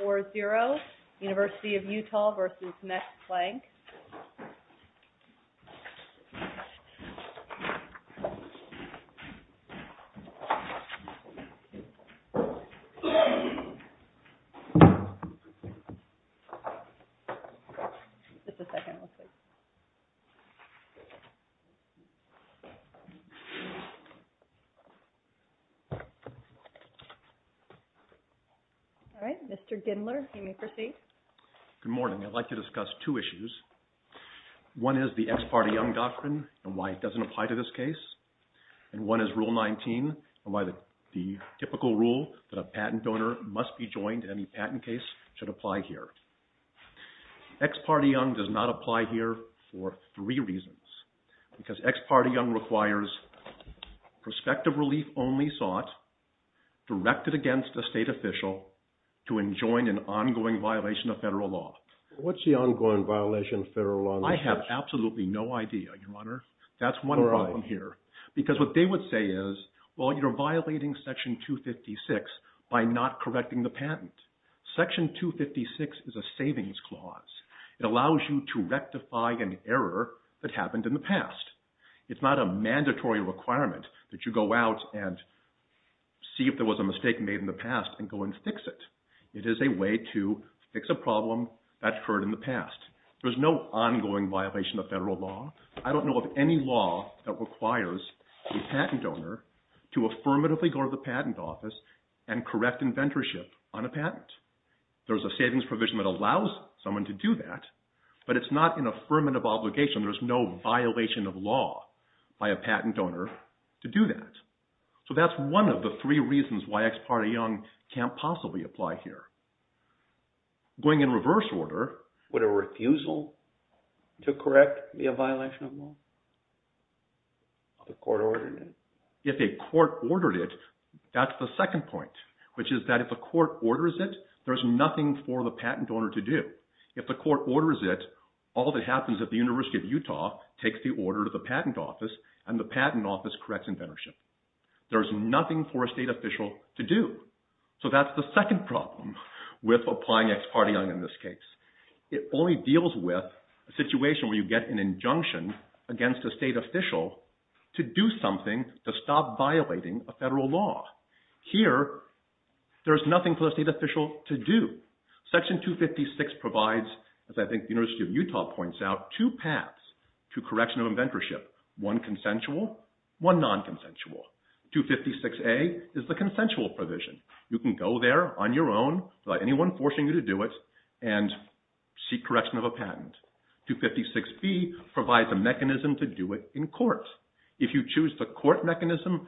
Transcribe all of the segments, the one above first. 4-0 UNIVERSITY OF UTAH v. MAX-PLANCK All right. Mr. Gindler, you may proceed. Good morning. I'd like to discuss two issues. One is the Ex Parte Young doctrine and why it doesn't apply to this case. And one is Rule 19 and why the typical rule that a patent donor must be joined in any patent case should apply here. Ex Parte Young does not apply here for three reasons. Because Ex Parte Young requires prospective relief only sought directed against a state official to enjoin an ongoing violation of federal law. What's the ongoing violation of federal law in this case? I have absolutely no idea, Your Honor. That's one problem here. Because what they would say is, well, you're violating Section 256 by not correcting the patent. Section 256 is a savings clause. It allows you to rectify an error that happened in the past. It's not a mandatory requirement that you go out and see if there was a mistake made in the past and go and fix it. It is a way to fix a problem that occurred in the past. There's no ongoing violation of federal law. I don't know of any law that requires a patent donor to affirmatively go to the patent office and correct inventorship on a patent. There's a savings provision that allows someone to do that, but it's not an affirmative obligation. There's no violation of law by a patent donor to do that. So that's one of the three reasons why Ex Parte Young can't possibly apply here. Going in reverse order... Would a refusal to correct be a violation of law if the court ordered it? If a court ordered it, that's the second point, which is that if a court orders it, there's nothing for the patent donor to do. If the court orders it, all that happens at the University of Utah takes the order to the patent office, and the patent office corrects inventorship. There's nothing for a state official to do. So that's the second problem with applying Ex Parte Young in this case. It only deals with a situation where you get an injunction against a state official to do something to stop violating a federal law. Here, there's nothing for the state official to do. Section 256 provides, as I think the University of Utah points out, two paths to correction of inventorship. One consensual, one non-consensual. 256A is the consensual provision. You can go there on your own without anyone forcing you to do it and seek correction of a patent. 256B provides a mechanism to do it in court. If you choose the court mechanism,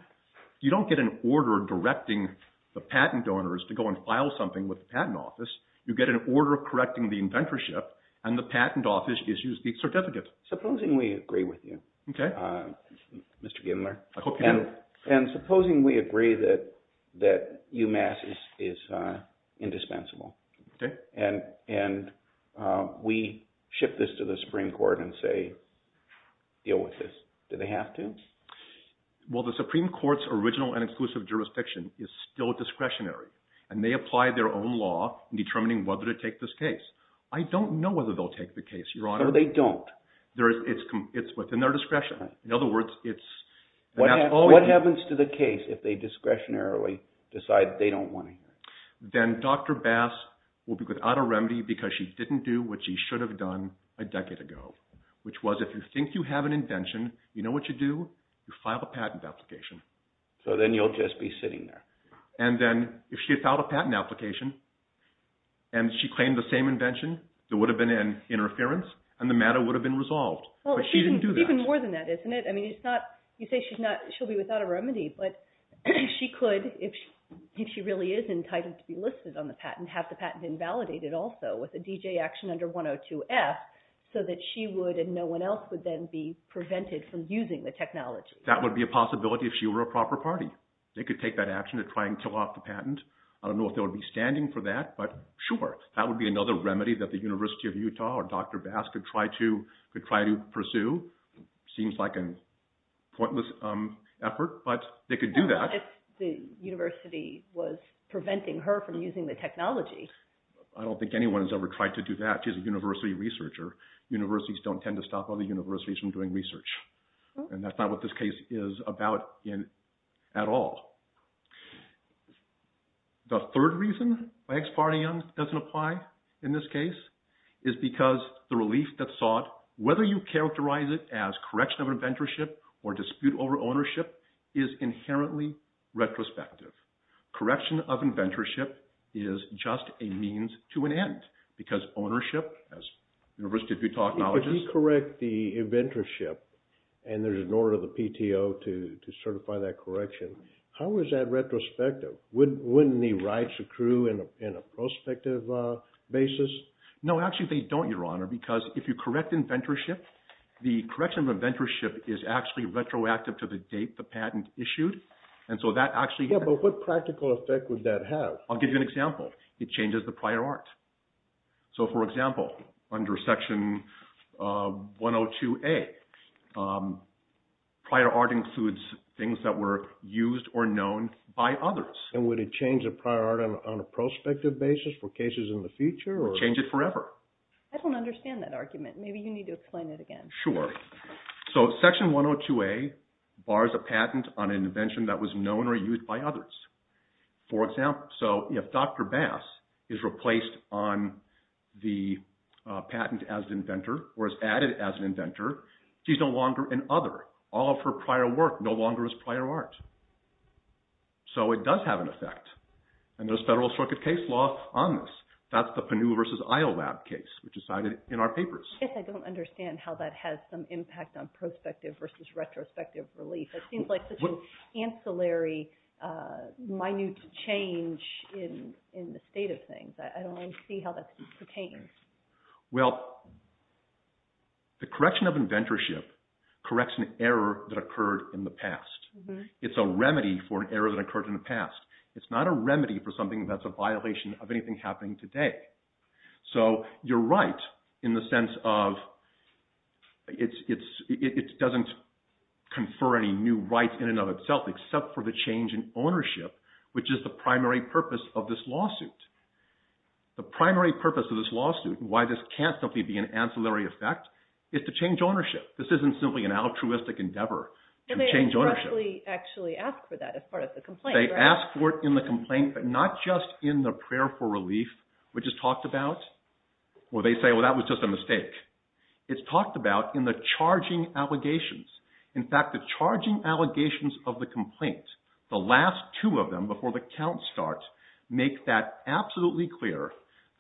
you don't get an order directing the patent donors to go and file something with the patent office. You get an order correcting the inventorship, and the patent office issues the certificate. Supposing we agree with you, Mr. Gimler. And supposing we agree that UMass is indispensable, and we ship this to the Supreme Court and say, deal with this. Do they have to? Well, the Supreme Court's original and exclusive jurisdiction is still discretionary, and they apply their own law in determining whether to take this case. I don't know whether they'll take the case, Your Honor. No, they don't. It's within their discretion. What happens to the case if they discretionarily decide they don't want to hear it? Then Dr. Bass will be without a remedy because she didn't do what she should have done a decade ago, which was if you think you have an invention, you know what you do? You file a patent application. So then you'll just be sitting there. And then if she had filed a patent application, and she claimed the same invention, there would have been an interference, and the matter would have been resolved. But she didn't do that. Even more than that, isn't it? I mean, you say she'll be without a remedy, but she could, if she really is entitled to be listed on the patent, have the patent invalidated also with a DJ action under 102F so that she would and no one else would then be prevented from using the technology. That would be a possibility if she were a proper party. They could take that action to try and kill off the patent. I don't know if they would be standing for that. But sure, that would be another remedy that the University of Utah or Dr. Bass could try to pursue. Seems like a pointless effort, but they could do that. What if the university was preventing her from using the technology? I don't think anyone has ever tried to do that. She's a university researcher. Universities don't tend to stop other universities from doing research. And that's not what this case is about at all. The third reason, by Ex Partium, doesn't apply in this case is because the relief that's sought, whether you characterize it as correction of inventorship or dispute over ownership, is inherently retrospective. Correction of inventorship is just a means to an end because ownership, as University of Utah acknowledges— How is that retrospective? Wouldn't the rights accrue in a prospective basis? No, actually they don't, Your Honor, because if you correct inventorship, the correction of inventorship is actually retroactive to the date the patent issued. And so that actually— Yeah, but what practical effect would that have? I'll give you an example. It changes the prior art. So, for example, under Section 102A, prior art includes things that were used or known by others. And would it change the prior art on a prospective basis for cases in the future? It would change it forever. I don't understand that argument. Maybe you need to explain it again. Sure. So, Section 102A bars a patent on an invention that was known or used by others. For example, so if Dr. Bass is replaced on the patent as an inventor or is added as an inventor, she's no longer an other. All of her prior work no longer is prior art. So it does have an effect. And there's federal circuit case law on this. That's the Panu v. Iolab case, which is cited in our papers. I guess I don't understand how that has some impact on prospective versus retrospective relief. It seems like such an ancillary, minute change in the state of things. I don't really see how that pertains. Well, the correction of inventorship corrects an error that occurred in the past. It's a remedy for an error that occurred in the past. It's not a remedy for something that's a violation of anything happening today. So you're right in the sense of it doesn't confer any new rights in and of itself except for the change in ownership, which is the primary purpose of this lawsuit. The primary purpose of this lawsuit, why this can't simply be an ancillary effect, is to change ownership. This isn't simply an altruistic endeavor to change ownership. And they expressly actually ask for that as part of the complaint, right? They ask for it in the complaint, but not just in the prayer for relief, which is talked about, where they say, well, that was just a mistake. It's talked about in the charging allegations. In fact, the charging allegations of the complaint, the last two of them before the count starts, make that absolutely clear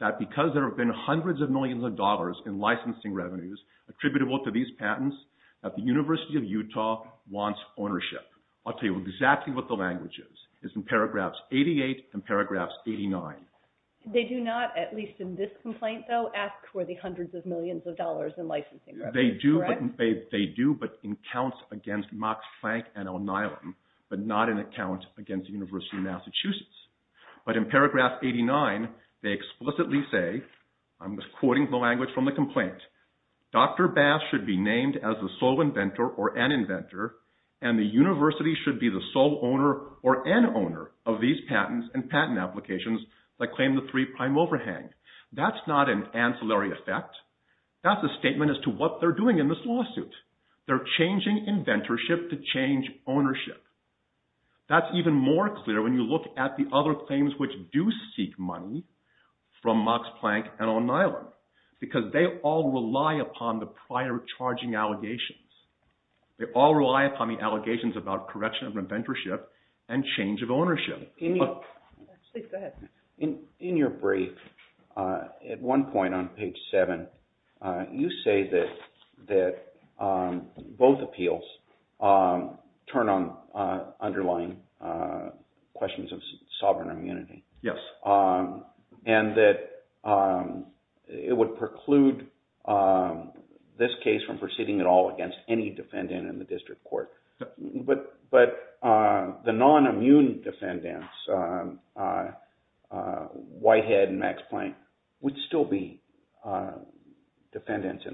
that because there have been hundreds of millions of dollars in licensing revenues attributable to these patents, that the University of Utah wants ownership. I'll tell you exactly what the language is. It's in paragraphs 88 and paragraphs 89. They do not, at least in this complaint, though, ask for the hundreds of millions of dollars in licensing revenues, correct? They do, but in counts against Max Planck and O'Neill, but not in a count against the University of Massachusetts. But in paragraph 89, they explicitly say, I'm quoting the language from the complaint, Dr. Bass should be named as the sole inventor or an inventor, and the university should be the sole owner or an owner of these patents and patent applications that claim the three-prime overhang. That's not an ancillary effect. That's a statement as to what they're doing in this lawsuit. They're changing inventorship to change ownership. That's even more clear when you look at the other claims which do seek money from Max Planck and O'Neill, because they all rely upon the prior charging allegations. They all rely upon the allegations about correction of inventorship and change of ownership. In your brief, at one point on page seven, you say that both appeals turn on underlying questions of sovereign immunity. Yes. And that it would preclude this case from proceeding at all against any defendant in the district court. But the non-immune defendants, Whitehead and Max Planck, would still be defendants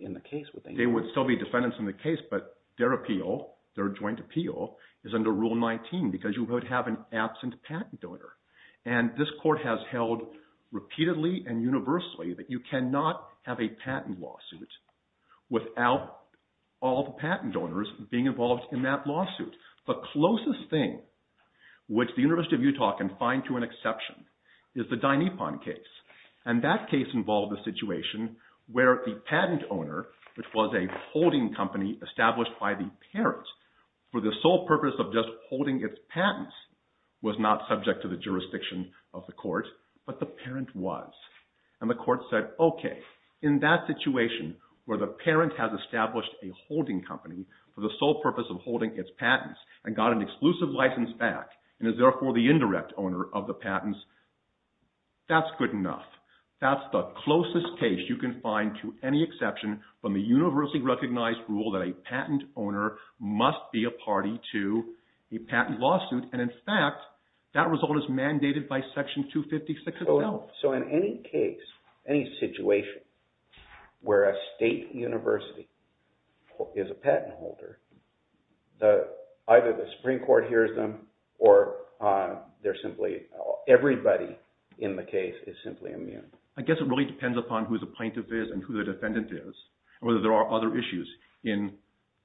in the case, would they not? They would still be defendants in the case, but their appeal, their joint appeal, is under Rule 19, because you would have an absent patent donor. And this court has held repeatedly and universally that you cannot have a patent lawsuit without all the patent donors being involved in that lawsuit. The closest thing which the University of Utah can find to an exception is the Dynepon case. And that case involved a situation where the patent owner, which was a holding company established by the parent for the sole purpose of just holding its patents, was not subject to the jurisdiction of the court, but the parent was. And the court said, okay, in that situation where the parent has established a holding company for the sole purpose of holding its patents and got an exclusive license back and is therefore the indirect owner of the patents, that's good enough. That's the closest case you can find to any exception from the universally recognized rule that a patent owner must be a party to a patent lawsuit. And in fact, that result is mandated by Section 256 of the law. So in any case, any situation where a state university is a patent holder, either the Supreme Court hears them or they're simply – everybody in the case is simply immune. I guess it really depends upon who the plaintiff is and who the defendant is and whether there are other issues in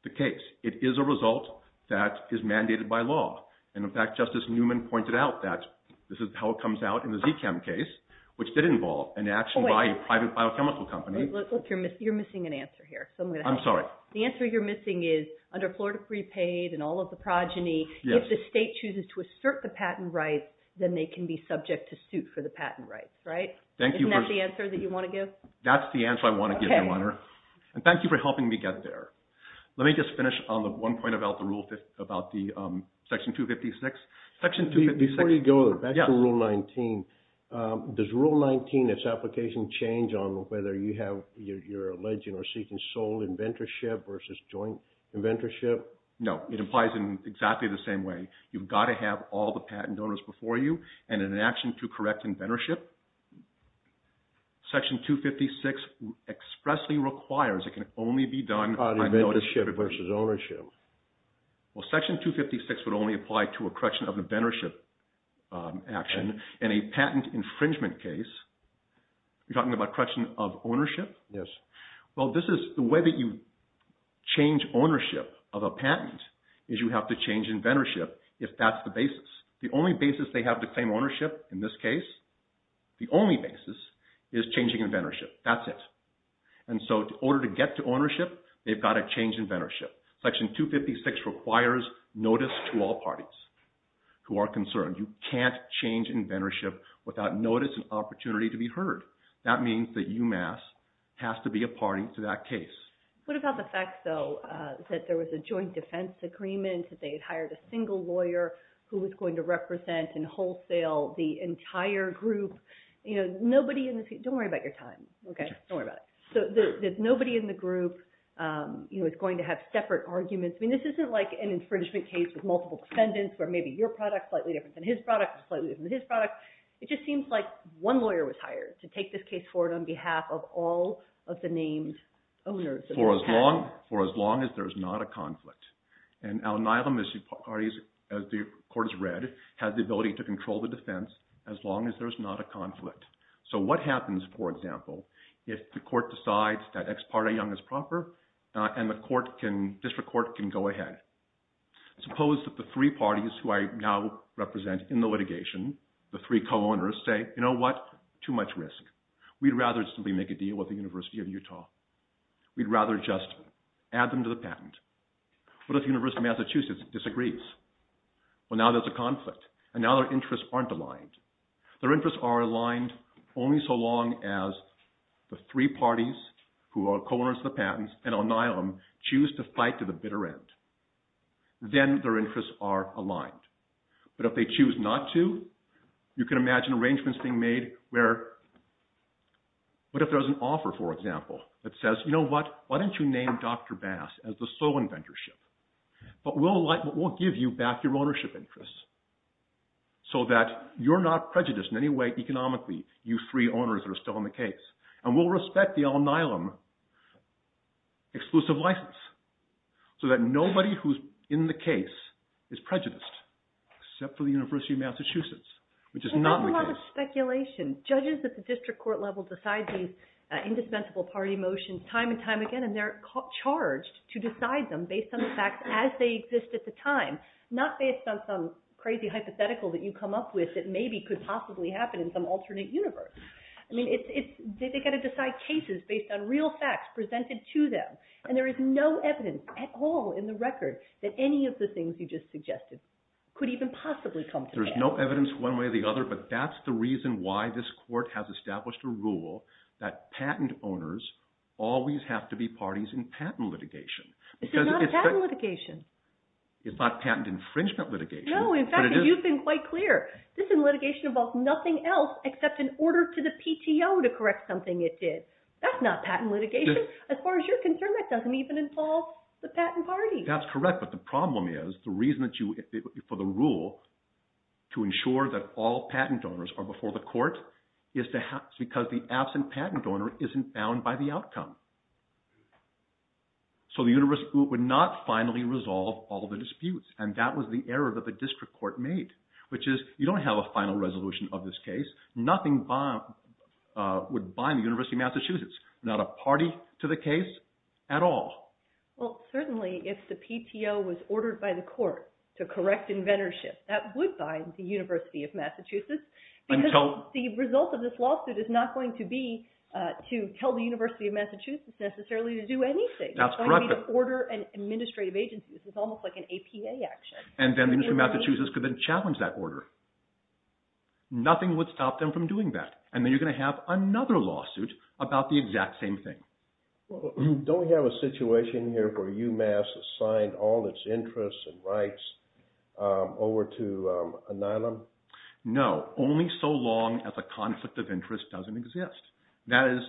the case. It is a result that is mandated by law. And in fact, Justice Newman pointed out that this is how it comes out in the Zchem case, which did involve an action by a private biochemical company. Wait, look, you're missing an answer here. I'm sorry. The answer you're missing is under Florida Prepaid and all of the progeny, if the state chooses to assert the patent rights, then they can be subject to suit for the patent rights, right? Isn't that the answer that you want to give? That's the answer I want to give, Your Honor. And thank you for helping me get there. Let me just finish on the one point about the Section 256. Before you go, back to Rule 19. Does Rule 19, its application, change on whether you're alleging or seeking sole inventorship versus joint inventorship? No, it applies in exactly the same way. You've got to have all the patent donors before you and an action to correct inventorship. Section 256 expressly requires it can only be done on ownership versus ownership. Well, Section 256 would only apply to a correction of inventorship action and a patent infringement case. You're talking about correction of ownership? Yes. Well, this is the way that you change ownership of a patent is you have to change inventorship if that's the basis. The only basis they have to claim ownership in this case, the only basis, is changing inventorship. That's it. And so in order to get to ownership, they've got to change inventorship. Section 256 requires notice to all parties who are concerned. You can't change inventorship without notice and opportunity to be heard. That means that UMass has to be a party to that case. What about the fact, though, that there was a joint defense agreement, that they had hired a single lawyer who was going to represent and wholesale the entire group? You know, nobody in this—don't worry about your time, okay? Don't worry about it. So there's nobody in the group who is going to have separate arguments. I mean, this isn't like an infringement case with multiple defendants where maybe your product is slightly different than his product, slightly different than his product. It just seems like one lawyer was hired to take this case forward on behalf of all of the named owners of the patent. For as long as there is not a conflict. And our anilum issue parties, as the court has read, have the ability to control the defense as long as there is not a conflict. So what happens, for example, if the court decides that Ex Parte Young is proper and the district court can go ahead? Suppose that the three parties who I now represent in the litigation, the three co-owners, say, you know what? Too much risk. We'd rather just simply make a deal with the University of Utah. We'd rather just add them to the patent. What if the University of Massachusetts disagrees? Well, now there's a conflict, and now their interests aren't aligned. Their interests are aligned only so long as the three parties who are co-owners of the patents and anilum choose to fight to the bitter end. Then their interests are aligned. But if they choose not to, you can imagine arrangements being made where, what if there was an offer, for example, that says, you know what? Why don't you name Dr. Bass as the sole inventorship? But we'll give you back your ownership interests so that you're not prejudiced in any way economically, you three owners that are still in the case. And we'll respect the anilum exclusive license so that nobody who's in the case is prejudiced, except for the University of Massachusetts, which is not the case. There's a lot of speculation. Judges at the district court level decide these indispensable party motions time and time again, and they're charged to decide them based on the facts as they exist at the time, not based on some crazy hypothetical that you come up with that maybe could possibly happen in some alternate universe. I mean, they've got to decide cases based on real facts presented to them, and there is no evidence at all in the record that any of the things you just suggested could even possibly come to pass. There's no evidence one way or the other, but that's the reason why this court has established a rule that patent owners always have to be parties in patent litigation. This is not a patent litigation. It's not patent infringement litigation. No, in fact, you've been quite clear. This litigation involves nothing else except an order to the PTO to correct something it did. That's not patent litigation. As far as you're concerned, that doesn't even involve the patent party. That's correct, but the problem is the reason for the rule to ensure that all patent donors are before the court is because the absent patent donor isn't bound by the outcome. So the university would not finally resolve all the disputes, and that was the error that the district court made, which is you don't have a final resolution of this case. Nothing would bind the University of Massachusetts. Not a party to the case at all. Well, certainly if the PTO was ordered by the court to correct inventorship, that would bind the University of Massachusetts because the result of this lawsuit is not going to be to tell the University of Massachusetts necessarily to do anything. That's correct. It's going to be to order an administrative agency. This is almost like an APA action. And then the University of Massachusetts could then challenge that order. Nothing would stop them from doing that, and then you're going to have another lawsuit about the exact same thing. Don't we have a situation here where UMass has signed all its interests and rights over to Anilam? No, only so long as a conflict of interest doesn't exist. That is,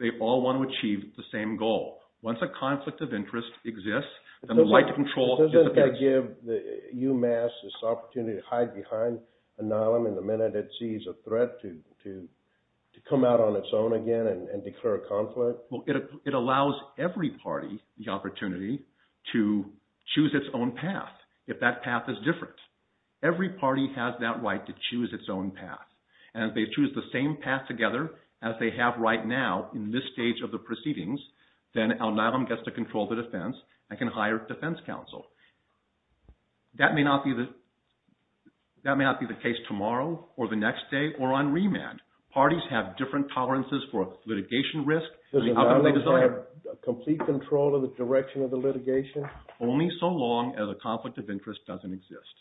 they all want to achieve the same goal. Once a conflict of interest exists, then the right to control disappears. Doesn't that give UMass this opportunity to hide behind Anilam in the minute it sees a threat to come out on its own again and declare a conflict? It allows every party the opportunity to choose its own path if that path is different. Every party has that right to choose its own path. And if they choose the same path together as they have right now in this stage of the proceedings, then Anilam gets to control the defense and can hire a defense counsel. That may not be the case tomorrow or the next day or on remand. Parties have different tolerances for litigation risk. Doesn't Anilam have complete control of the direction of the litigation? Only so long as a conflict of interest doesn't exist.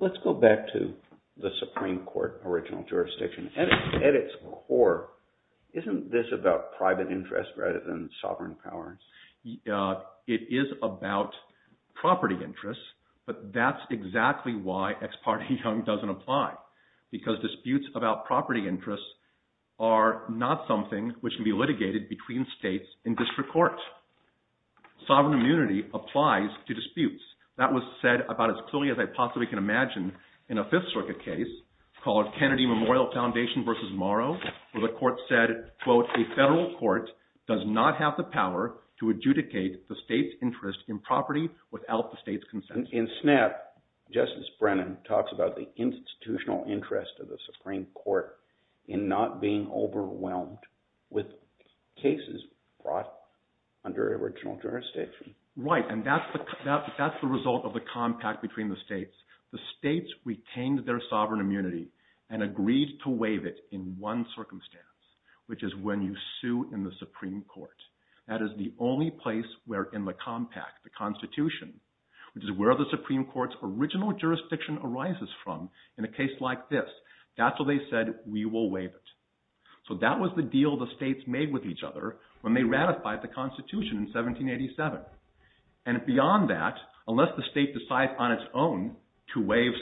Let's go back to the Supreme Court original jurisdiction. At its core, isn't this about private interest rather than sovereign power? It is about property interest, but that's exactly why Ex parte Young doesn't apply because disputes about property interests are not something which can be litigated between states in district court. Sovereign immunity applies to disputes. That was said about as clearly as I possibly can imagine in a Fifth Circuit case called Kennedy Memorial Foundation v. Morrow, where the court said, quote, A federal court does not have the power to adjudicate the state's interest in property without the state's consent. In Snap, Justice Brennan talks about the institutional interest of the Supreme Court in not being overwhelmed with cases brought under original jurisdiction. Right, and that's the result of the compact between the states. The states retained their sovereign immunity and agreed to waive it in one circumstance, which is when you sue in the Supreme Court. That is the only place where in the compact, the Constitution, which is where the Supreme Court's original jurisdiction arises from in a case like this, that's where they said we will waive it. So that was the deal the states made with each other when they ratified the Constitution in 1787. And beyond that, unless the state decides on its own to waive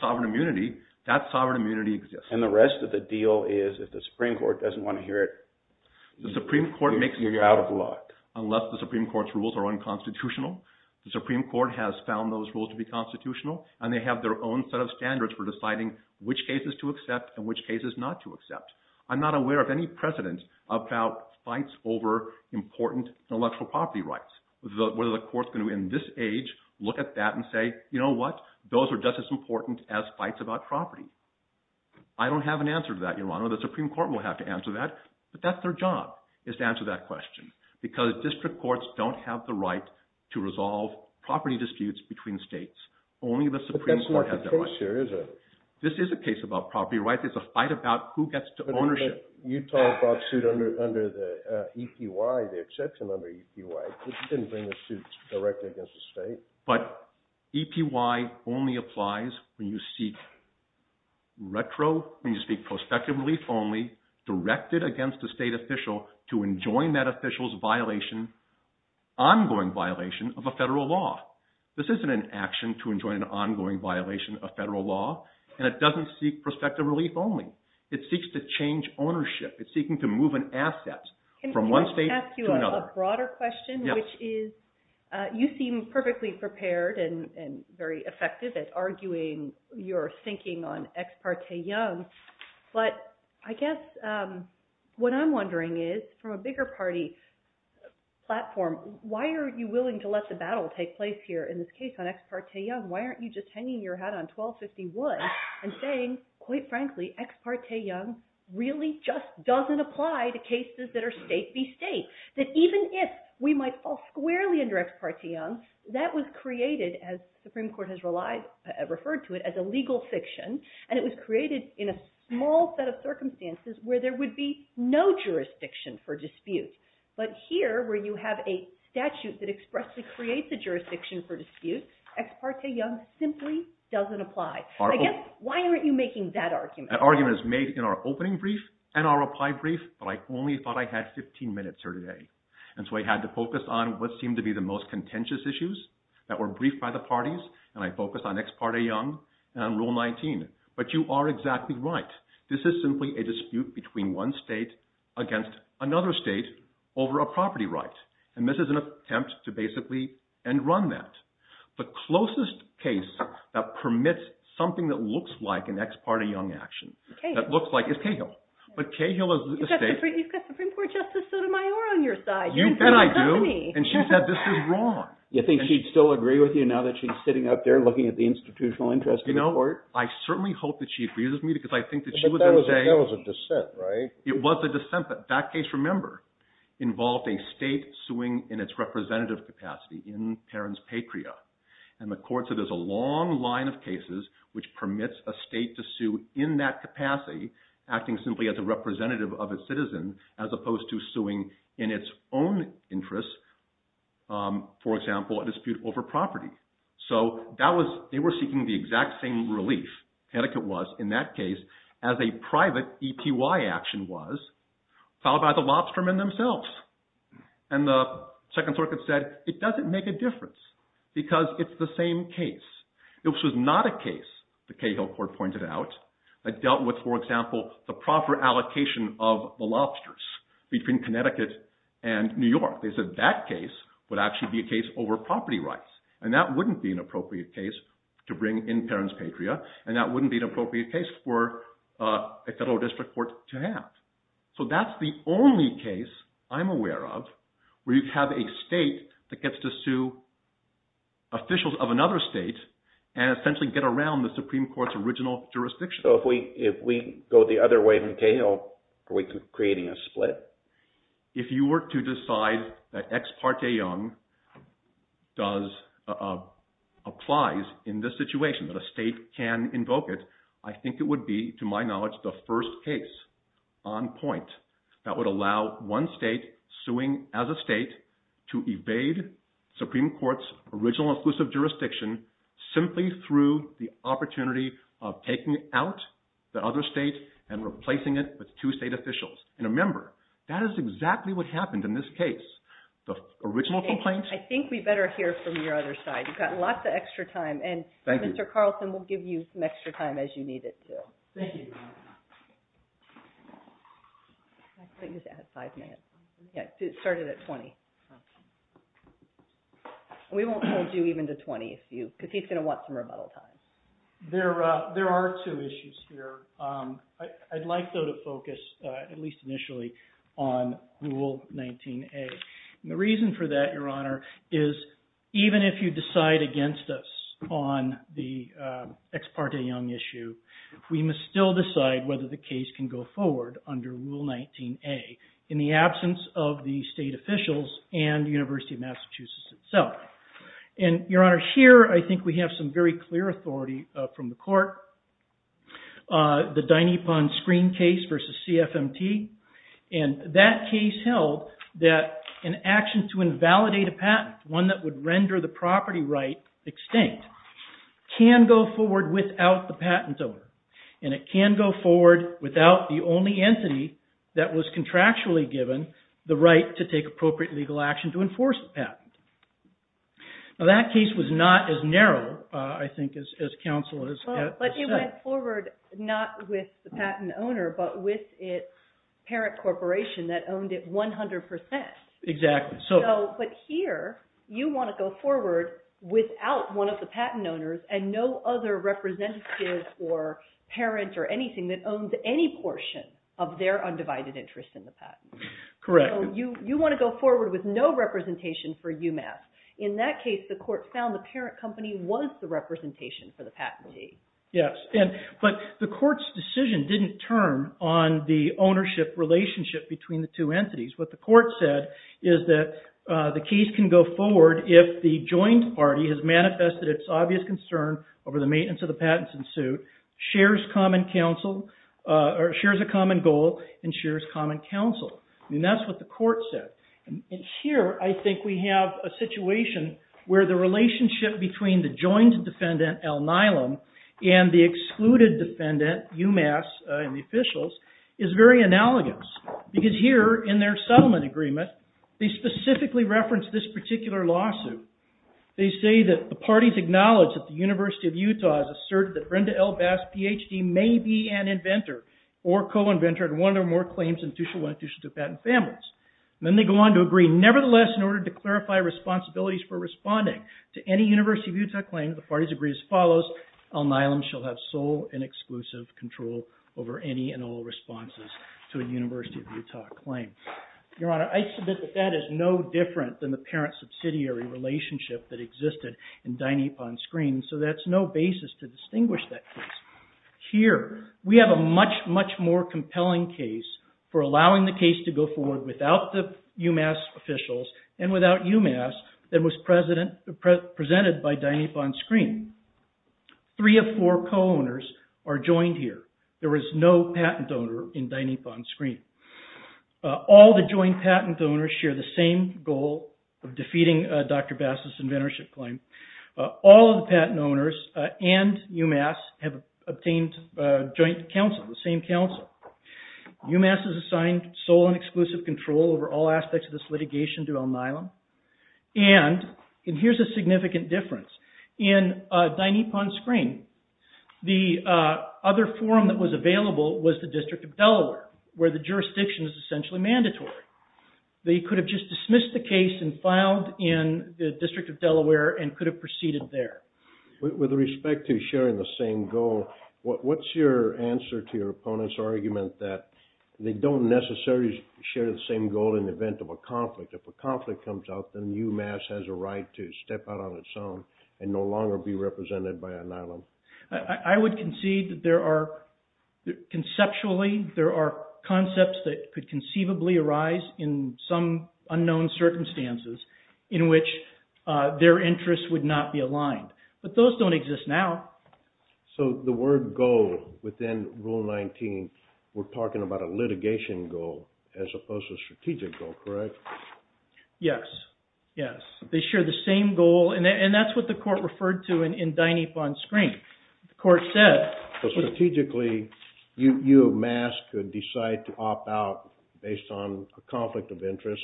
sovereign immunity, that sovereign immunity exists. And the rest of the deal is if the Supreme Court doesn't want to hear it, you're out of luck. Unless the Supreme Court's rules are unconstitutional. The Supreme Court has found those rules to be constitutional, and they have their own set of standards for deciding which cases to accept and which cases not to accept. I'm not aware of any precedent about fights over important intellectual property rights, whether the court's going to in this age look at that and say, you know what, those are just as important as fights about property. I don't have an answer to that, Your Honor. The Supreme Court will have to answer that. But that's their job, is to answer that question. Because district courts don't have the right to resolve property disputes between states. Only the Supreme Court has that right. But that's not the case here, is it? This is a case about property rights. It's a fight about who gets to ownership. But Utah brought suit under the EPY, the exception under EPY. It didn't bring the suit directly against the state. But EPY only applies when you seek retro, when you seek prospective relief only, directed against a state official to enjoin that official's violation, ongoing violation of a federal law. This isn't an action to enjoin an ongoing violation of federal law, and it doesn't seek prospective relief only. It seeks to change ownership. It's seeking to move an asset from one state to another. I have a broader question, which is you seem perfectly prepared and very effective at arguing your thinking on Ex parte Young. But I guess what I'm wondering is, from a bigger party platform, why are you willing to let the battle take place here in this case on Ex parte Young? Why aren't you just hanging your hat on 1251 and saying, quite frankly, Ex parte Young really just doesn't apply to cases that are state v. state, that even if we might fall squarely under Ex parte Young, that was created, as the Supreme Court has referred to it, as a legal fiction, and it was created in a small set of circumstances where there would be no jurisdiction for dispute. But here, where you have a statute that expressly creates a jurisdiction for dispute, Ex parte Young simply doesn't apply. I guess, why aren't you making that argument? That argument is made in our opening brief and our reply brief, but I only thought I had 15 minutes here today, and so I had to focus on what seemed to be the most contentious issues that were briefed by the parties, and I focused on Ex parte Young and Rule 19. But you are exactly right. This is simply a dispute between one state against another state over a property right, and this is an attempt to basically end-run that. The closest case that permits something that looks like an Ex parte Young action, that looks like it's Cahill, but Cahill is the state. You've got Supreme Court Justice Sotomayor on your side. You bet I do, and she said this is wrong. You think she'd still agree with you now that she's sitting up there looking at the Institutional Interest Report? I certainly hope that she agrees with me because I think that she would then say. But that was a dissent, right? It was a dissent, but that case, remember, involved a state suing in its representative capacity in Perron's Patria, and the court said there's a long line of cases which permits a state to sue in that capacity, acting simply as a representative of a citizen, as opposed to suing in its own interests, for example, a dispute over property. So they were seeking the exact same relief, etiquette was, in that case, as a private EPY action was, followed by the Lobstermen themselves. And the Second Circuit said it doesn't make a difference because it's the same case. It was not a case, the Cahill Court pointed out, that dealt with, for example, the proper allocation of the lobsters between Connecticut and New York. They said that case would actually be a case over property rights, and that wouldn't be an appropriate case to bring in Perron's Patria, and that wouldn't be an appropriate case for a federal district court to have. So that's the only case I'm aware of where you have a state that gets to sue officials of another state, and essentially get around the Supreme Court's original jurisdiction. So if we go the other way from Cahill, are we creating a split? If you were to decide that Ex parte Young applies in this situation, that a state can invoke it, I think it would be, to my knowledge, the first case on point that would allow one state suing as a state to evade Supreme Court's original exclusive jurisdiction simply through the opportunity of taking out the other state and replacing it with two state officials. And remember, that is exactly what happened in this case. The original complaint... I think we better hear from your other side. You've got lots of extra time, and Mr. Carlson will give you some extra time as you need it to. Thank you. I think it's at five minutes. Yeah, it started at 20. We won't hold you even to 20, because he's going to want some rebuttal time. There are two issues here. I'd like, though, to focus, at least initially, on Rule 19A. The reason for that, Your Honor, is even if you decide against us on the Ex parte Young issue, we must still decide whether the case can go forward under Rule 19A. In the absence of the state officials and the University of Massachusetts itself. And, Your Honor, here I think we have some very clear authority from the court. The Dinepon screen case versus CFMT. And that case held that an action to invalidate a patent, one that would render the property right extinct, can go forward without the patent owner. And it can go forward without the only entity that was contractually given the right to take appropriate legal action to enforce the patent. Now that case was not as narrow, I think, as counsel has said. But it went forward not with the patent owner, but with its parent corporation that owned it 100%. Exactly. But here, you want to go forward without one of the patent owners and no other representative or parent or anything that owns any portion of their undivided interest in the patent. Correct. You want to go forward with no representation for UMass. In that case, the court found the parent company was the representation for the patentee. Yes. But the court's decision didn't turn on the ownership relationship between the two entities. What the court said is that the case can go forward if the joint party has manifested its obvious concern over the maintenance of the patents in suit, shares a common goal, and shares common counsel. I mean, that's what the court said. And here, I think we have a situation where the relationship between the joint defendant, Al Nilam, and the excluded defendant, UMass, and the officials is very analogous. Because here, in their settlement agreement, they specifically reference this particular lawsuit. They say that the parties acknowledge that the University of Utah has asserted that Brenda L. Bass, PhD, may be an inventor or co-inventor in one or more claims intitutional to patent families. And then they go on to agree, nevertheless, in order to clarify responsibilities for responding to any University of Utah claim, the parties agree as follows, Al Nilam shall have sole and exclusive control over any and all responses to a University of Utah claim. Your Honor, I submit that that is no different than the parent subsidiary relationship that existed in Dynapon Screens. And so that's no basis to distinguish that case. Here, we have a much, much more compelling case for allowing the case to go forward without the UMass officials and without UMass than was presented by Dynapon Screens. Three of four co-owners are joined here. There is no patent donor in Dynapon Screens. All the joint patent donors share the same goal of defeating Dr. Bass's inventorship claim. All of the patent owners and UMass have obtained joint counsel, the same counsel. UMass is assigned sole and exclusive control over all aspects of this litigation to Al Nilam. And here's a significant difference. In Dynapon Screen, the other forum that was available was the District of Delaware, where the jurisdiction is essentially mandatory. They could have just dismissed the case and filed in the District of Delaware and could have proceeded there. With respect to sharing the same goal, what's your answer to your opponent's argument that they don't necessarily share the same goal in the event of a conflict? If a conflict comes up, then UMass has a right to step out on its own and no longer be represented by Al Nilam. I would concede that there are, conceptually, there are concepts that could conceivably arise in some unknown circumstances in which their interests would not be aligned. But those don't exist now. So the word goal within Rule 19, we're talking about a litigation goal as opposed to a strategic goal, correct? Yes. Yes. They share the same goal. And that's what the court referred to in Dynapon Screen. The court said. Strategically, UMass could decide to opt out based on a conflict of interest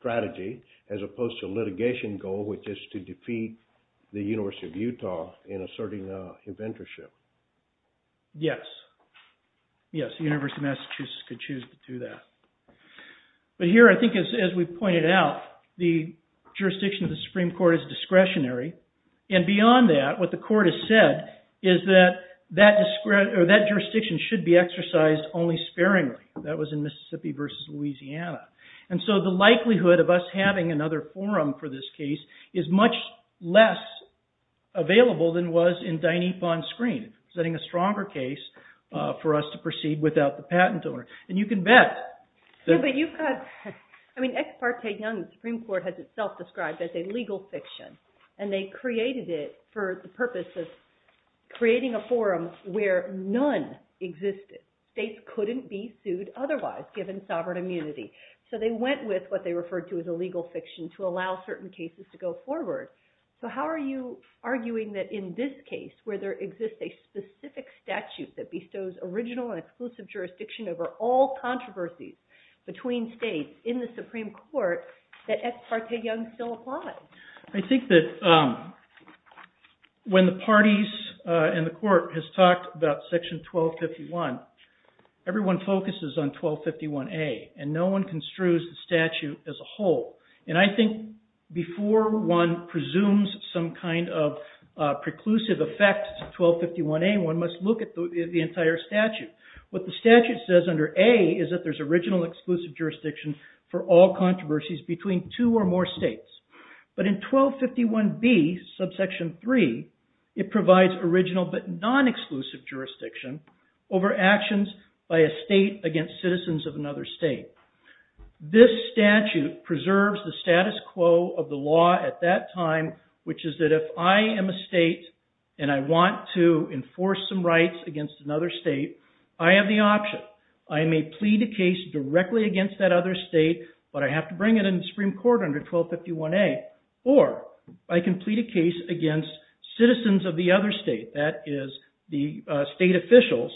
strategy as opposed to a litigation goal, which is to defeat the University of Utah in asserting inventorship. Yes. Yes, the University of Massachusetts could choose to do that. But here, I think, as we pointed out, the jurisdiction of the Supreme Court is discretionary. And beyond that, what the court has said is that that jurisdiction should be exercised only sparingly. That was in Mississippi versus Louisiana. And so the likelihood of us having another forum for this case is much less available than was in Dynapon Screen, setting a stronger case for us to proceed without the patent owner. And you can bet. Yeah, but you've got, I mean, Ex Parte Young, the Supreme Court has itself described as a legal fiction. And they created it for the purpose of creating a forum where none existed. States couldn't be sued otherwise given sovereign immunity. So they went with what they referred to as a legal fiction to allow certain cases to go forward. So how are you arguing that in this case where there exists a specific statute that bestows original and exclusive jurisdiction over all controversies between states in the Supreme Court that Ex Parte Young still applies? I think that when the parties and the court has talked about section 1251, everyone focuses on 1251A. And no one construes the statute as a whole. And I think before one presumes some kind of preclusive effect to 1251A, one must look at the entire statute. What the statute says under A is that there's original exclusive jurisdiction for all controversies between two or more states. But in 1251B, subsection 3, it provides original but non-exclusive jurisdiction over actions by a state against citizens of another state. This statute preserves the status quo of the law at that time, which is that if I am a state and I want to enforce some rights against another state, I have the option. I may plead a case directly against that other state, but I have to bring it in the Supreme Court under 1251A. Or I can plead a case against citizens of the other state. That is the state officials.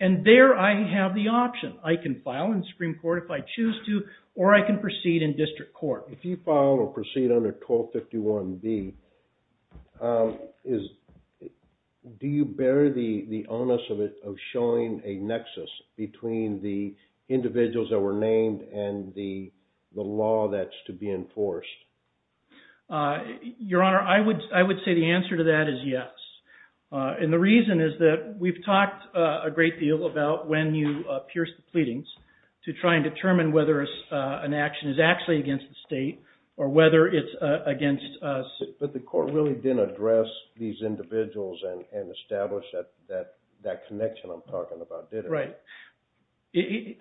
And there I have the option. I can file in Supreme Court if I choose to, or I can proceed in district court. If you file or proceed under 1251B, do you bear the onus of showing a nexus between the individuals that were named and the law that's to be enforced? Your Honor, I would say the answer to that is yes. And the reason is that we've talked a great deal about when you pierce the pleadings to try and determine whether an action is actually against the state or whether it's against us. But the court really didn't address these individuals and establish that connection I'm talking about, did it? Right.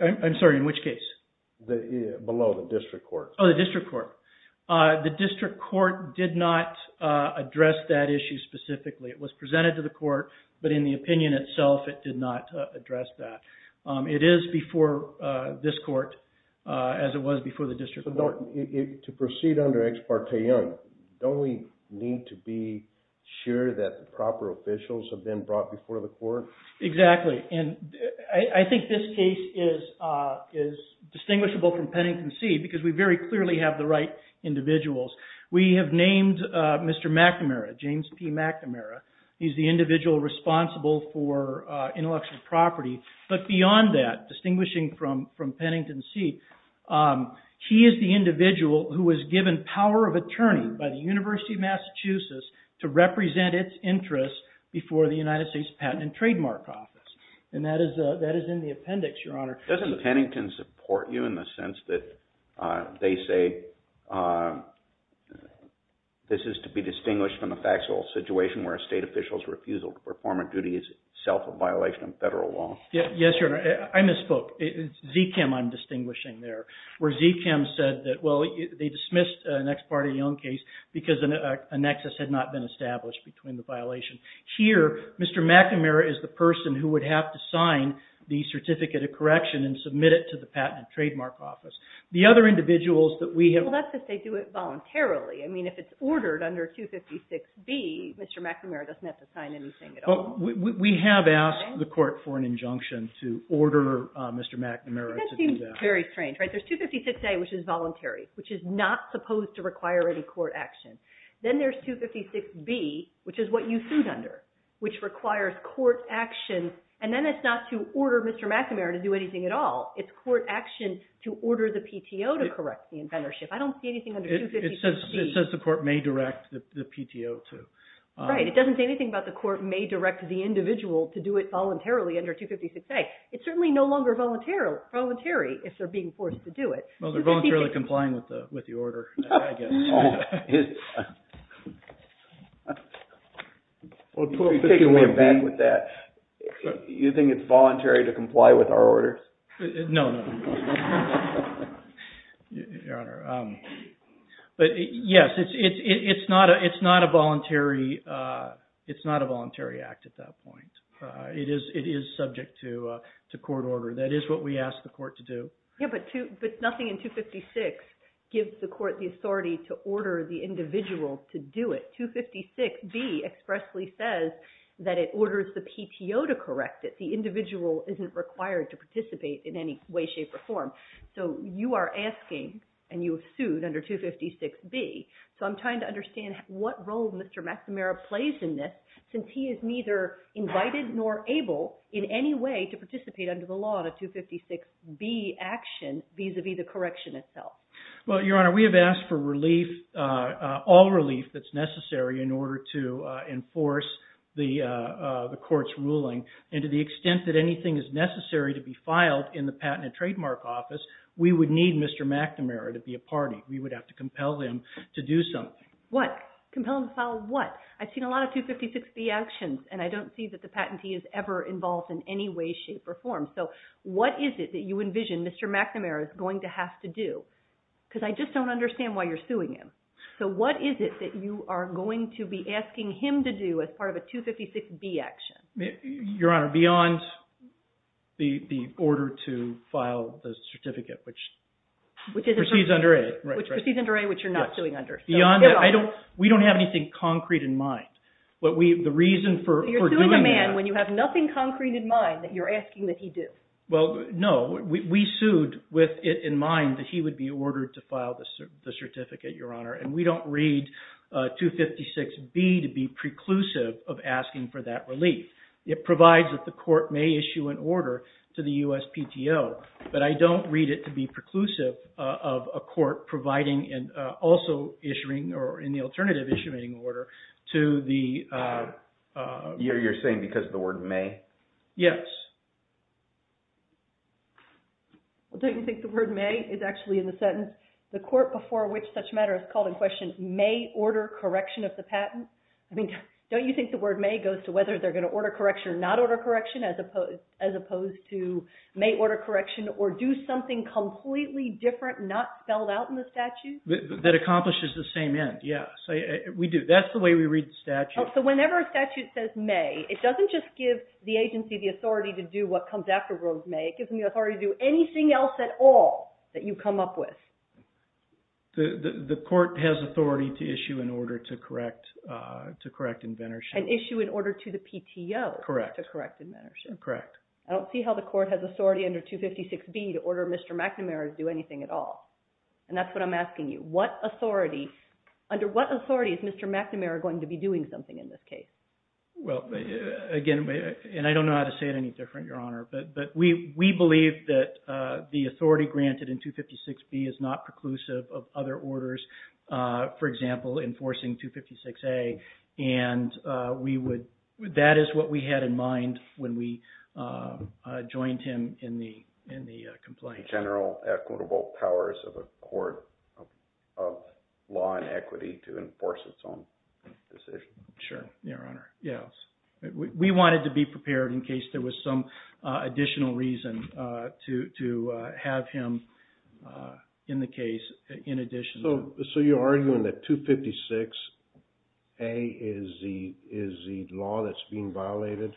I'm sorry, in which case? Below the district court. Oh, the district court. The district court did not address that issue specifically. It was presented to the court, but in the opinion itself, it did not address that. It is before this court as it was before the district court. To proceed under Ex parte Young, have been brought before the court? Exactly. And I think this case is distinguishable from Pennington C because we very clearly have the right individuals. We have named Mr. McNamara, James P. McNamara. He's the individual responsible for intellectual property. But beyond that, distinguishing from Pennington C, he is the individual who was given power of attorney by the University of Massachusetts to represent its interests before the United States Patent and Trademark Office. And that is in the appendix, Your Honor. Doesn't Pennington support you in the sense that they say this is to be distinguished from the factual situation where a state official's refusal to perform a duty is itself a violation of federal law? Yes, Your Honor. I misspoke. It's ZKIM I'm distinguishing there, where ZKIM said that, well, they dismissed an Ex parte Young case because a nexus had not been established between the violation. Here, Mr. McNamara is the person who would have to sign the Certificate of Correction and submit it to the Patent and Trademark Office. The other individuals that we have... Well, that's if they do it voluntarily. I mean, if it's ordered under 256B, Mr. McNamara doesn't have to sign anything at all. We have asked the court for an injunction to order Mr. McNamara to do that. That seems very strange, right? There's 256A, which is voluntary, which is not supposed to require any court action. Then there's 256B, which is what you sued under, which requires court action, and then it's not to order Mr. McNamara to do anything at all. It's court action to order the PTO to correct the offendership. I don't see anything under 256B. It says the court may direct the PTO to... Right, it doesn't say anything about the court may direct the individual to do it voluntarily under 256A. It's certainly no longer voluntary if they're being forced to do it. Well, they're voluntarily complying with the order, I guess. Well, 256B... You're taking me aback with that. You think it's voluntary to comply with our order? No, no. Your Honor. But, yes, it's not a voluntary act at that point. It is subject to court order. That is what we ask the court to do. Yeah, but nothing in 256 gives the court the authority to order the individual to do it. 256B expressly says that it orders the PTO to correct it. The individual isn't required to participate in any way, shape, or form. So you are asking, and you have sued under 256B. So I'm trying to understand what role Mr. McNamara plays in this since he is neither invited nor able in any way to participate under the law in a 256B action vis-à-vis the correction itself. Well, Your Honor, we have asked for relief, all relief that's necessary in order to enforce the court's ruling. And to the extent that anything is necessary to be filed in the Patent and Trademark Office, we would need Mr. McNamara to be a party. We would have to compel them to do something. What? Compel them to file what? I've seen a lot of 256B actions, and I don't see that the patentee is ever involved in any way, shape, or form. So what is it that you envision Mr. McNamara is going to have to do because I just don't understand why you're suing him. So what is it that you are going to be asking him to do as part of a 256B action? Your Honor, beyond the order to file the certificate, which proceeds under A. Which proceeds under A, which you're not suing under. Beyond that, we don't have anything concrete in mind. The reason for doing that... You're suing a man when you have nothing concrete in mind that you're asking that he do. Well, no. We sued with it in mind that he would be ordered to file the certificate, Your Honor, and we don't read 256B to be preclusive of asking for that relief. It provides that the court may issue an order to the USPTO, but I don't read it to be preclusive of a court providing and also issuing, or in the alternative issuing order, to the... You're saying because of the word may? Yes. Don't you think the word may is actually in the sentence? The court before which such matter is called in question may order correction of the patent. Don't you think the word may goes to whether they're going to order correction or not order correction as opposed to may order correction or do something completely different, not spelled out in the statute? That accomplishes the same end, yes. We do. That's the way we read the statute. So whenever a statute says may, it doesn't just give the agency the authority to do what comes after rose may. It gives them the authority to do anything else at all that you come up with. The court has authority to issue an order to correct inventorship. An issue in order to the PTO to correct inventorship. Correct. I don't see how the court has authority under 256B to order Mr. McNamara to do anything at all, and that's what I'm asking you. Under what authority is Mr. McNamara going to be doing something in this case? Well, again, and I don't know how to say it any different, Your Honor, but we believe that the authority granted in 256B is not preclusive of other orders. For example, enforcing 256A, and that is what we had in mind when we joined him in the complaint. General equitable powers of a court of law and equity to enforce its own decision. Sure, Your Honor. Yes. We wanted to be prepared in case there was some additional reason to have him in the case in addition. So you're arguing that 256A is the law that's being violated?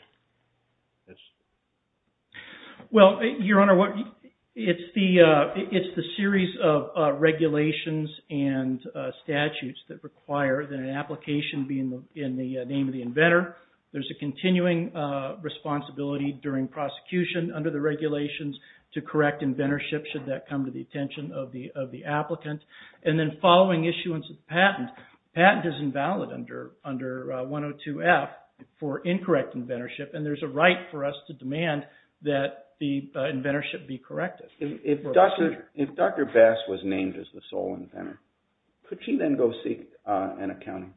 Well, Your Honor, it's the series of regulations and statutes that require that an application be in the name of the inventor. There's a continuing responsibility during prosecution under the regulations to correct inventorship should that come to the attention of the applicant. And then following issuance of patent, patent is invalid under 102F for incorrect inventorship, and there's a right for us to demand that the inventorship be corrected. If Dr. Bass was named as the sole inventor, could she then go seek an accounting?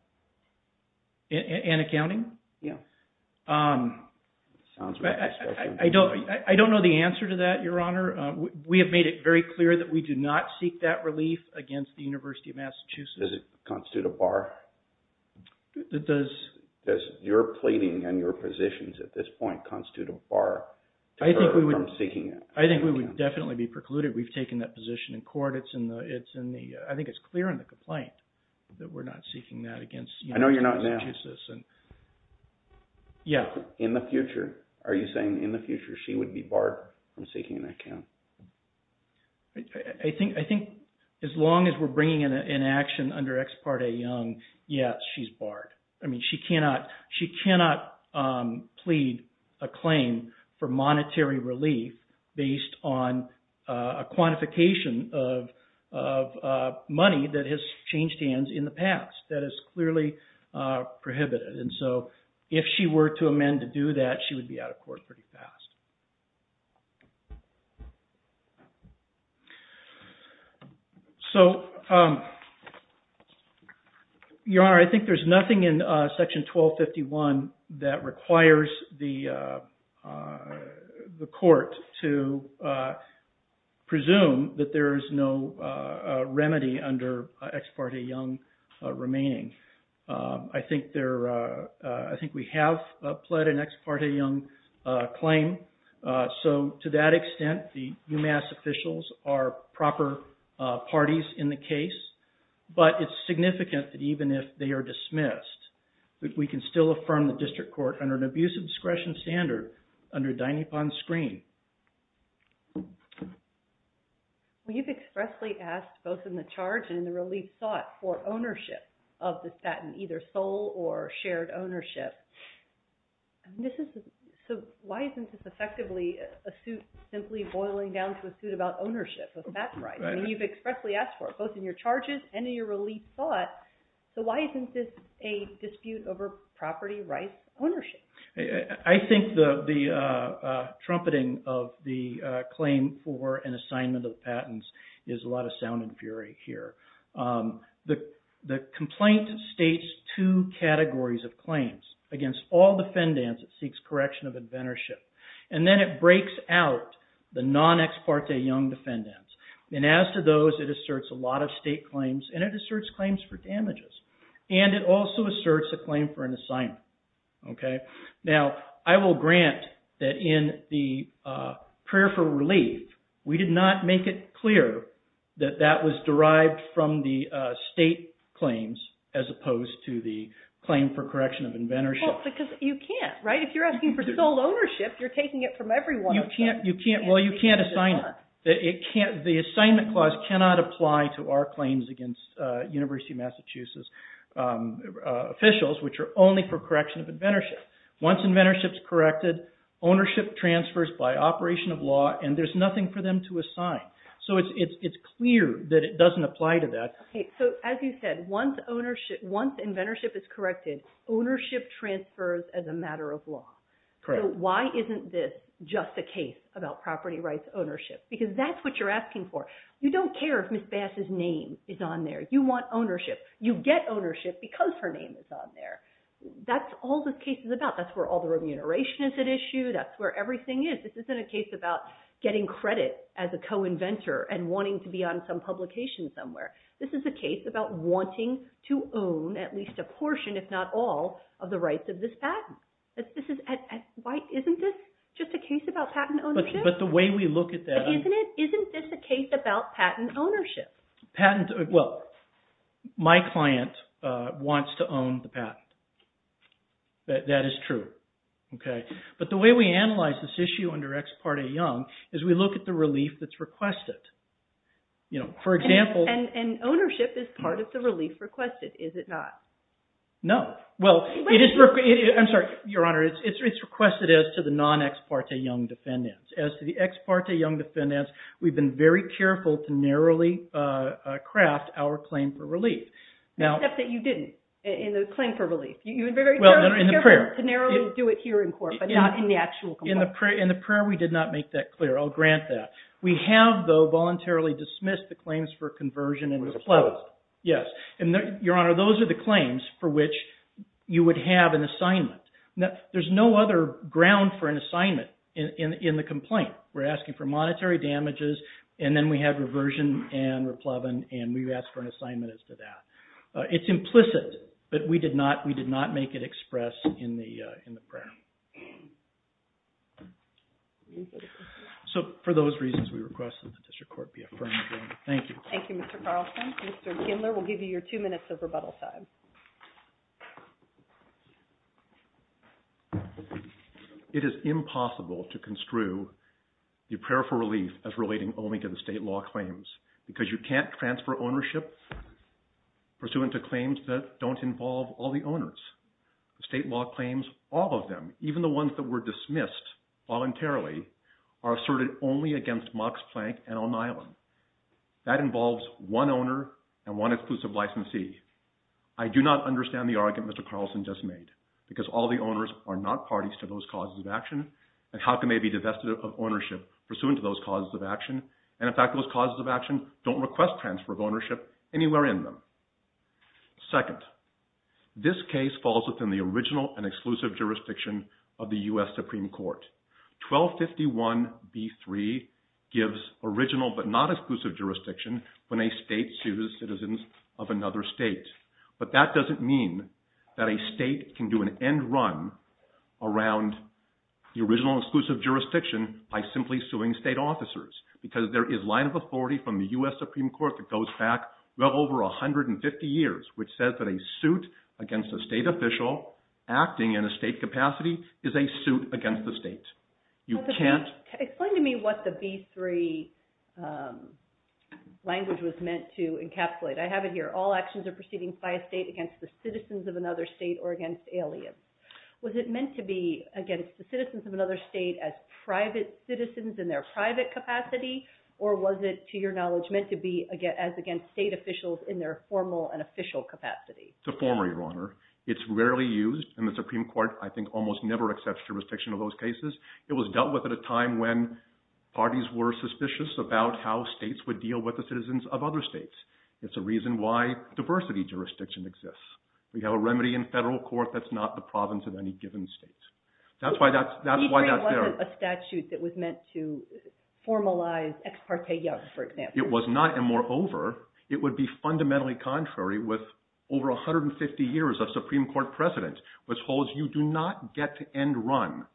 An accounting? Yeah. I don't know the answer to that, Your Honor. We have made it very clear that we do not seek that relief against the University of Massachusetts. Does it constitute a bar? Does your pleading and your positions at this point constitute a bar? I think we would definitely be precluded. We've taken that position in court. I think it's clear in the complaint that we're not seeking that against the University of Massachusetts. I know you're not now. Yeah. In the future? Are you saying in the future she would be barred from seeking an account? I think as long as we're bringing an action under Ex parte Young, yes, she's barred. I mean, she cannot plead a claim for monetary relief based on a quantification of money that has changed hands in the past. That is clearly prohibited. And so if she were to amend to do that, she would be out of court pretty fast. So, Your Honor, I think there's nothing in Section 1251 that requires the court to presume that there is no remedy under Ex parte Young remaining. I think we have pled an Ex parte Young claim. So to that extent, the UMass officials are proper parties in the case. But it's significant that even if they are dismissed, that we can still affirm the district court under an abuse of discretion standard under Dynapon's screen. Well, you've expressly asked both in the charge and in the relief sought for ownership of the stat in either sole or shared ownership. So why isn't this effectively a suit simply boiling down to a suit about ownership, if that's right? I mean, you've expressly asked for it both in your charges and in your relief sought. So why isn't this a dispute over property rights ownership? I think the trumpeting of the claim for an assignment of patents is a lot of sound and fury here. The complaint states two categories of claims. Against all defendants, it seeks correction of inventorship. And then it breaks out the non-Ex parte Young defendants. And as to those, it asserts a lot of state claims, and it asserts claims for damages. And it also asserts a claim for an assignment. Now, I will grant that in the prayer for relief, we did not make it clear that that was derived from the state claims as opposed to the claim for correction of inventorship. Because you can't, right? If you're asking for sole ownership, you're taking it from everyone. You can't assign it. The assignment clause cannot apply to our claims against University of Massachusetts officials, which are only for correction of inventorship. Once inventorship's corrected, ownership transfers by operation of law, and there's nothing for them to assign. So it's clear that it doesn't apply to that. Okay, so as you said, once inventorship is corrected, ownership transfers as a matter of law. So why isn't this just a case about property rights ownership? Because that's what you're asking for. You don't care if Ms. Bass's name is on there. You want ownership. You get ownership because her name is on there. That's all this case is about. That's where all the remuneration is at issue. That's where everything is. This isn't a case about getting credit as a co-inventor and wanting to be on some publication somewhere. This is a case about wanting to own at least a portion, if not all, of the rights of this patent. Why isn't this just a case about patent ownership? But the way we look at that... Isn't this a case about patent ownership? Well, my client wants to own the patent. That is true. But the way we analyze this issue under Ex Parte Young is we look at the relief that's requested. And ownership is part of the relief requested, is it not? No. I'm sorry, Your Honor. It's requested as to the non-Ex Parte Young defendants. As to the Ex Parte Young defendants, we've been very careful to narrowly craft our claim for relief. Except that you didn't in the claim for relief. You were very careful to narrowly do it here in court but not in the actual complaint. In the prayer, we did not make that clear. I'll grant that. We have, though, voluntarily dismissed the claims for conversion and have closed. Yes. And, Your Honor, those are the claims for which you would have an assignment. There's no other ground for an assignment in the complaint. We're asking for monetary damages, and then we have reversion and replevin, and we've asked for an assignment as to that. It's implicit, but we did not make it expressed in the prayer. So for those reasons, we request that the district court be affirmed. Thank you. Thank you, Mr. Carlson. Mr. Kindler, we'll give you your two minutes of rebuttal time. Thank you. It is impossible to construe the prayer for relief as relating only to the state law claims because you can't transfer ownership pursuant to claims that don't involve all the owners. The state law claims all of them, even the ones that were dismissed voluntarily, are asserted only against Mox Plank and O'Neillen. That involves one owner and one exclusive licensee. I do not understand the argument Mr. Carlson just made because all the owners are not parties to those causes of action and how can they be divested of ownership pursuant to those causes of action? And in fact, those causes of action don't request transfer of ownership anywhere in them. Second, this case falls within the original and exclusive jurisdiction of the U.S. Supreme Court. 1251b3 gives original but not exclusive jurisdiction when a state sues citizens of another state. But that doesn't mean that a state can do an end run around the original exclusive jurisdiction by simply suing state officers because there is line of authority from the U.S. Supreme Court that goes back well over 150 years which says that a suit against a state official acting in a state capacity is a suit against the state. You can't... Explain to me what the b3 language was meant to encapsulate. I have it here. All actions are proceeding by a state against the citizens of another state or against aliens. Was it meant to be against the citizens of another state as private citizens in their private capacity or was it, to your knowledge, meant to be as against state officials in their formal and official capacity? It's a former, Your Honor. It's rarely used in the Supreme Court. I think almost never accepts jurisdiction of those cases. It was dealt with at a time when parties were suspicious about how states would deal with the citizens of other states. It's a reason why diversity jurisdiction exists. We have a remedy in federal court that's not the province of any given state. That's why that's there. b3 wasn't a statute that was meant to formalize Ex parte Young, for example. It was not, and moreover, it would be fundamentally contrary with over 150 years of Supreme Court precedent which holds you do not get and run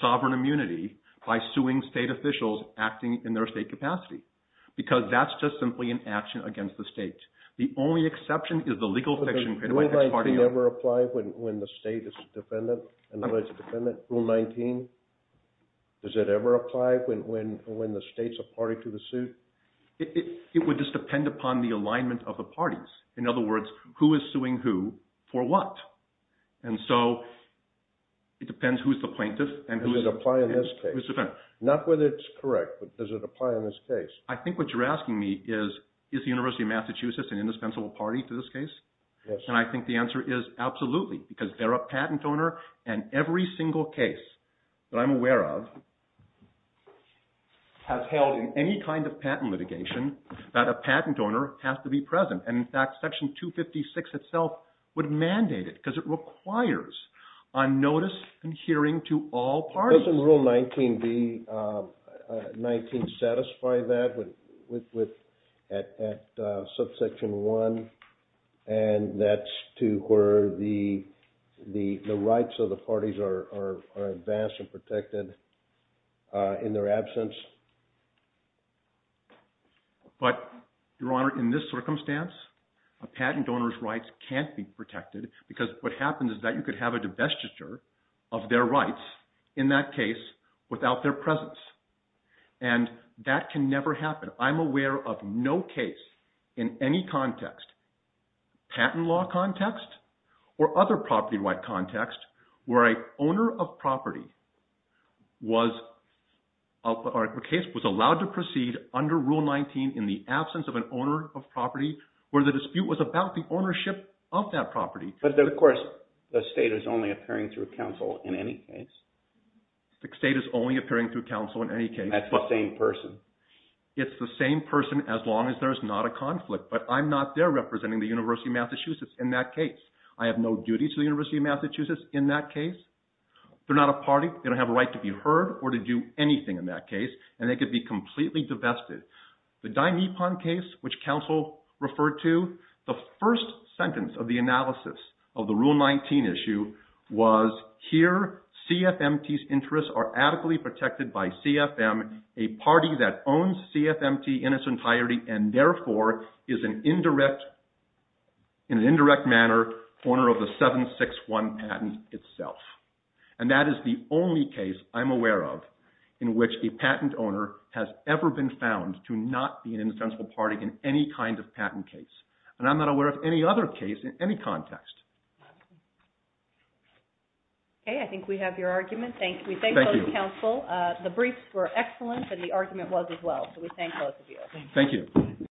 sovereign immunity by suing state officials acting in their state capacity because that's just simply an action against the state. The only exception is the legal fiction created by Ex parte Young. Does Rule 19 ever apply when the state is a defendant? Rule 19? Does it ever apply when the state's a party to the suit? It would just depend upon the alignment of the parties. In other words, who is suing who for what? And so it depends who's the plaintiff and who's the defendant. Does it apply in this case? Not whether it's correct, but does it apply in this case? I think what you're asking me is, is the University of Massachusetts an indispensable party to this case? And I think the answer is absolutely because they're a patent owner and every single case that I'm aware of has held in any kind of patent litigation that a patent owner has to be present. And in fact, Section 256 itself would mandate it because it requires on notice and hearing to all parties. Doesn't Rule 19 satisfy that at subsection 1 and that's to where the rights of the parties are advanced and protected in their absence? But, Your Honor, in this circumstance, a patent owner's rights can't be protected because what happens is that you could have a divestiture of their rights in that case without their presence. And that can never happen. I'm aware of no case in any context, patent law context or other property right context, where an owner of property was allowed to proceed under Rule 19 in the absence of an owner of property where the dispute was about the ownership of that property. But, of course, the state is only appearing through counsel in any case. The state is only appearing through counsel in any case. That's the same person. It's the same person as long as there's not a conflict. But I'm not there representing the University of Massachusetts in that case. I have no duty to the University of Massachusetts in that case. They're not a party. They don't have a right to be heard or to do anything in that case and they could be completely divested. The Dimepon case, which counsel referred to, the first sentence of the analysis of the Rule 19 issue was, here CFMT's interests are adequately protected by CFM, a party that owns CFMT in its entirety and therefore is in an indirect manner owner of the 761 patent itself. And that is the only case I'm aware of in which a patent owner has ever been found to not be an indispensable party in any kind of patent case. And I'm not aware of any other case in any context. Okay, I think we have your argument. Thank you. We thank both counsel. The briefs were excellent and the argument was as well. So we thank both of you. Thank you.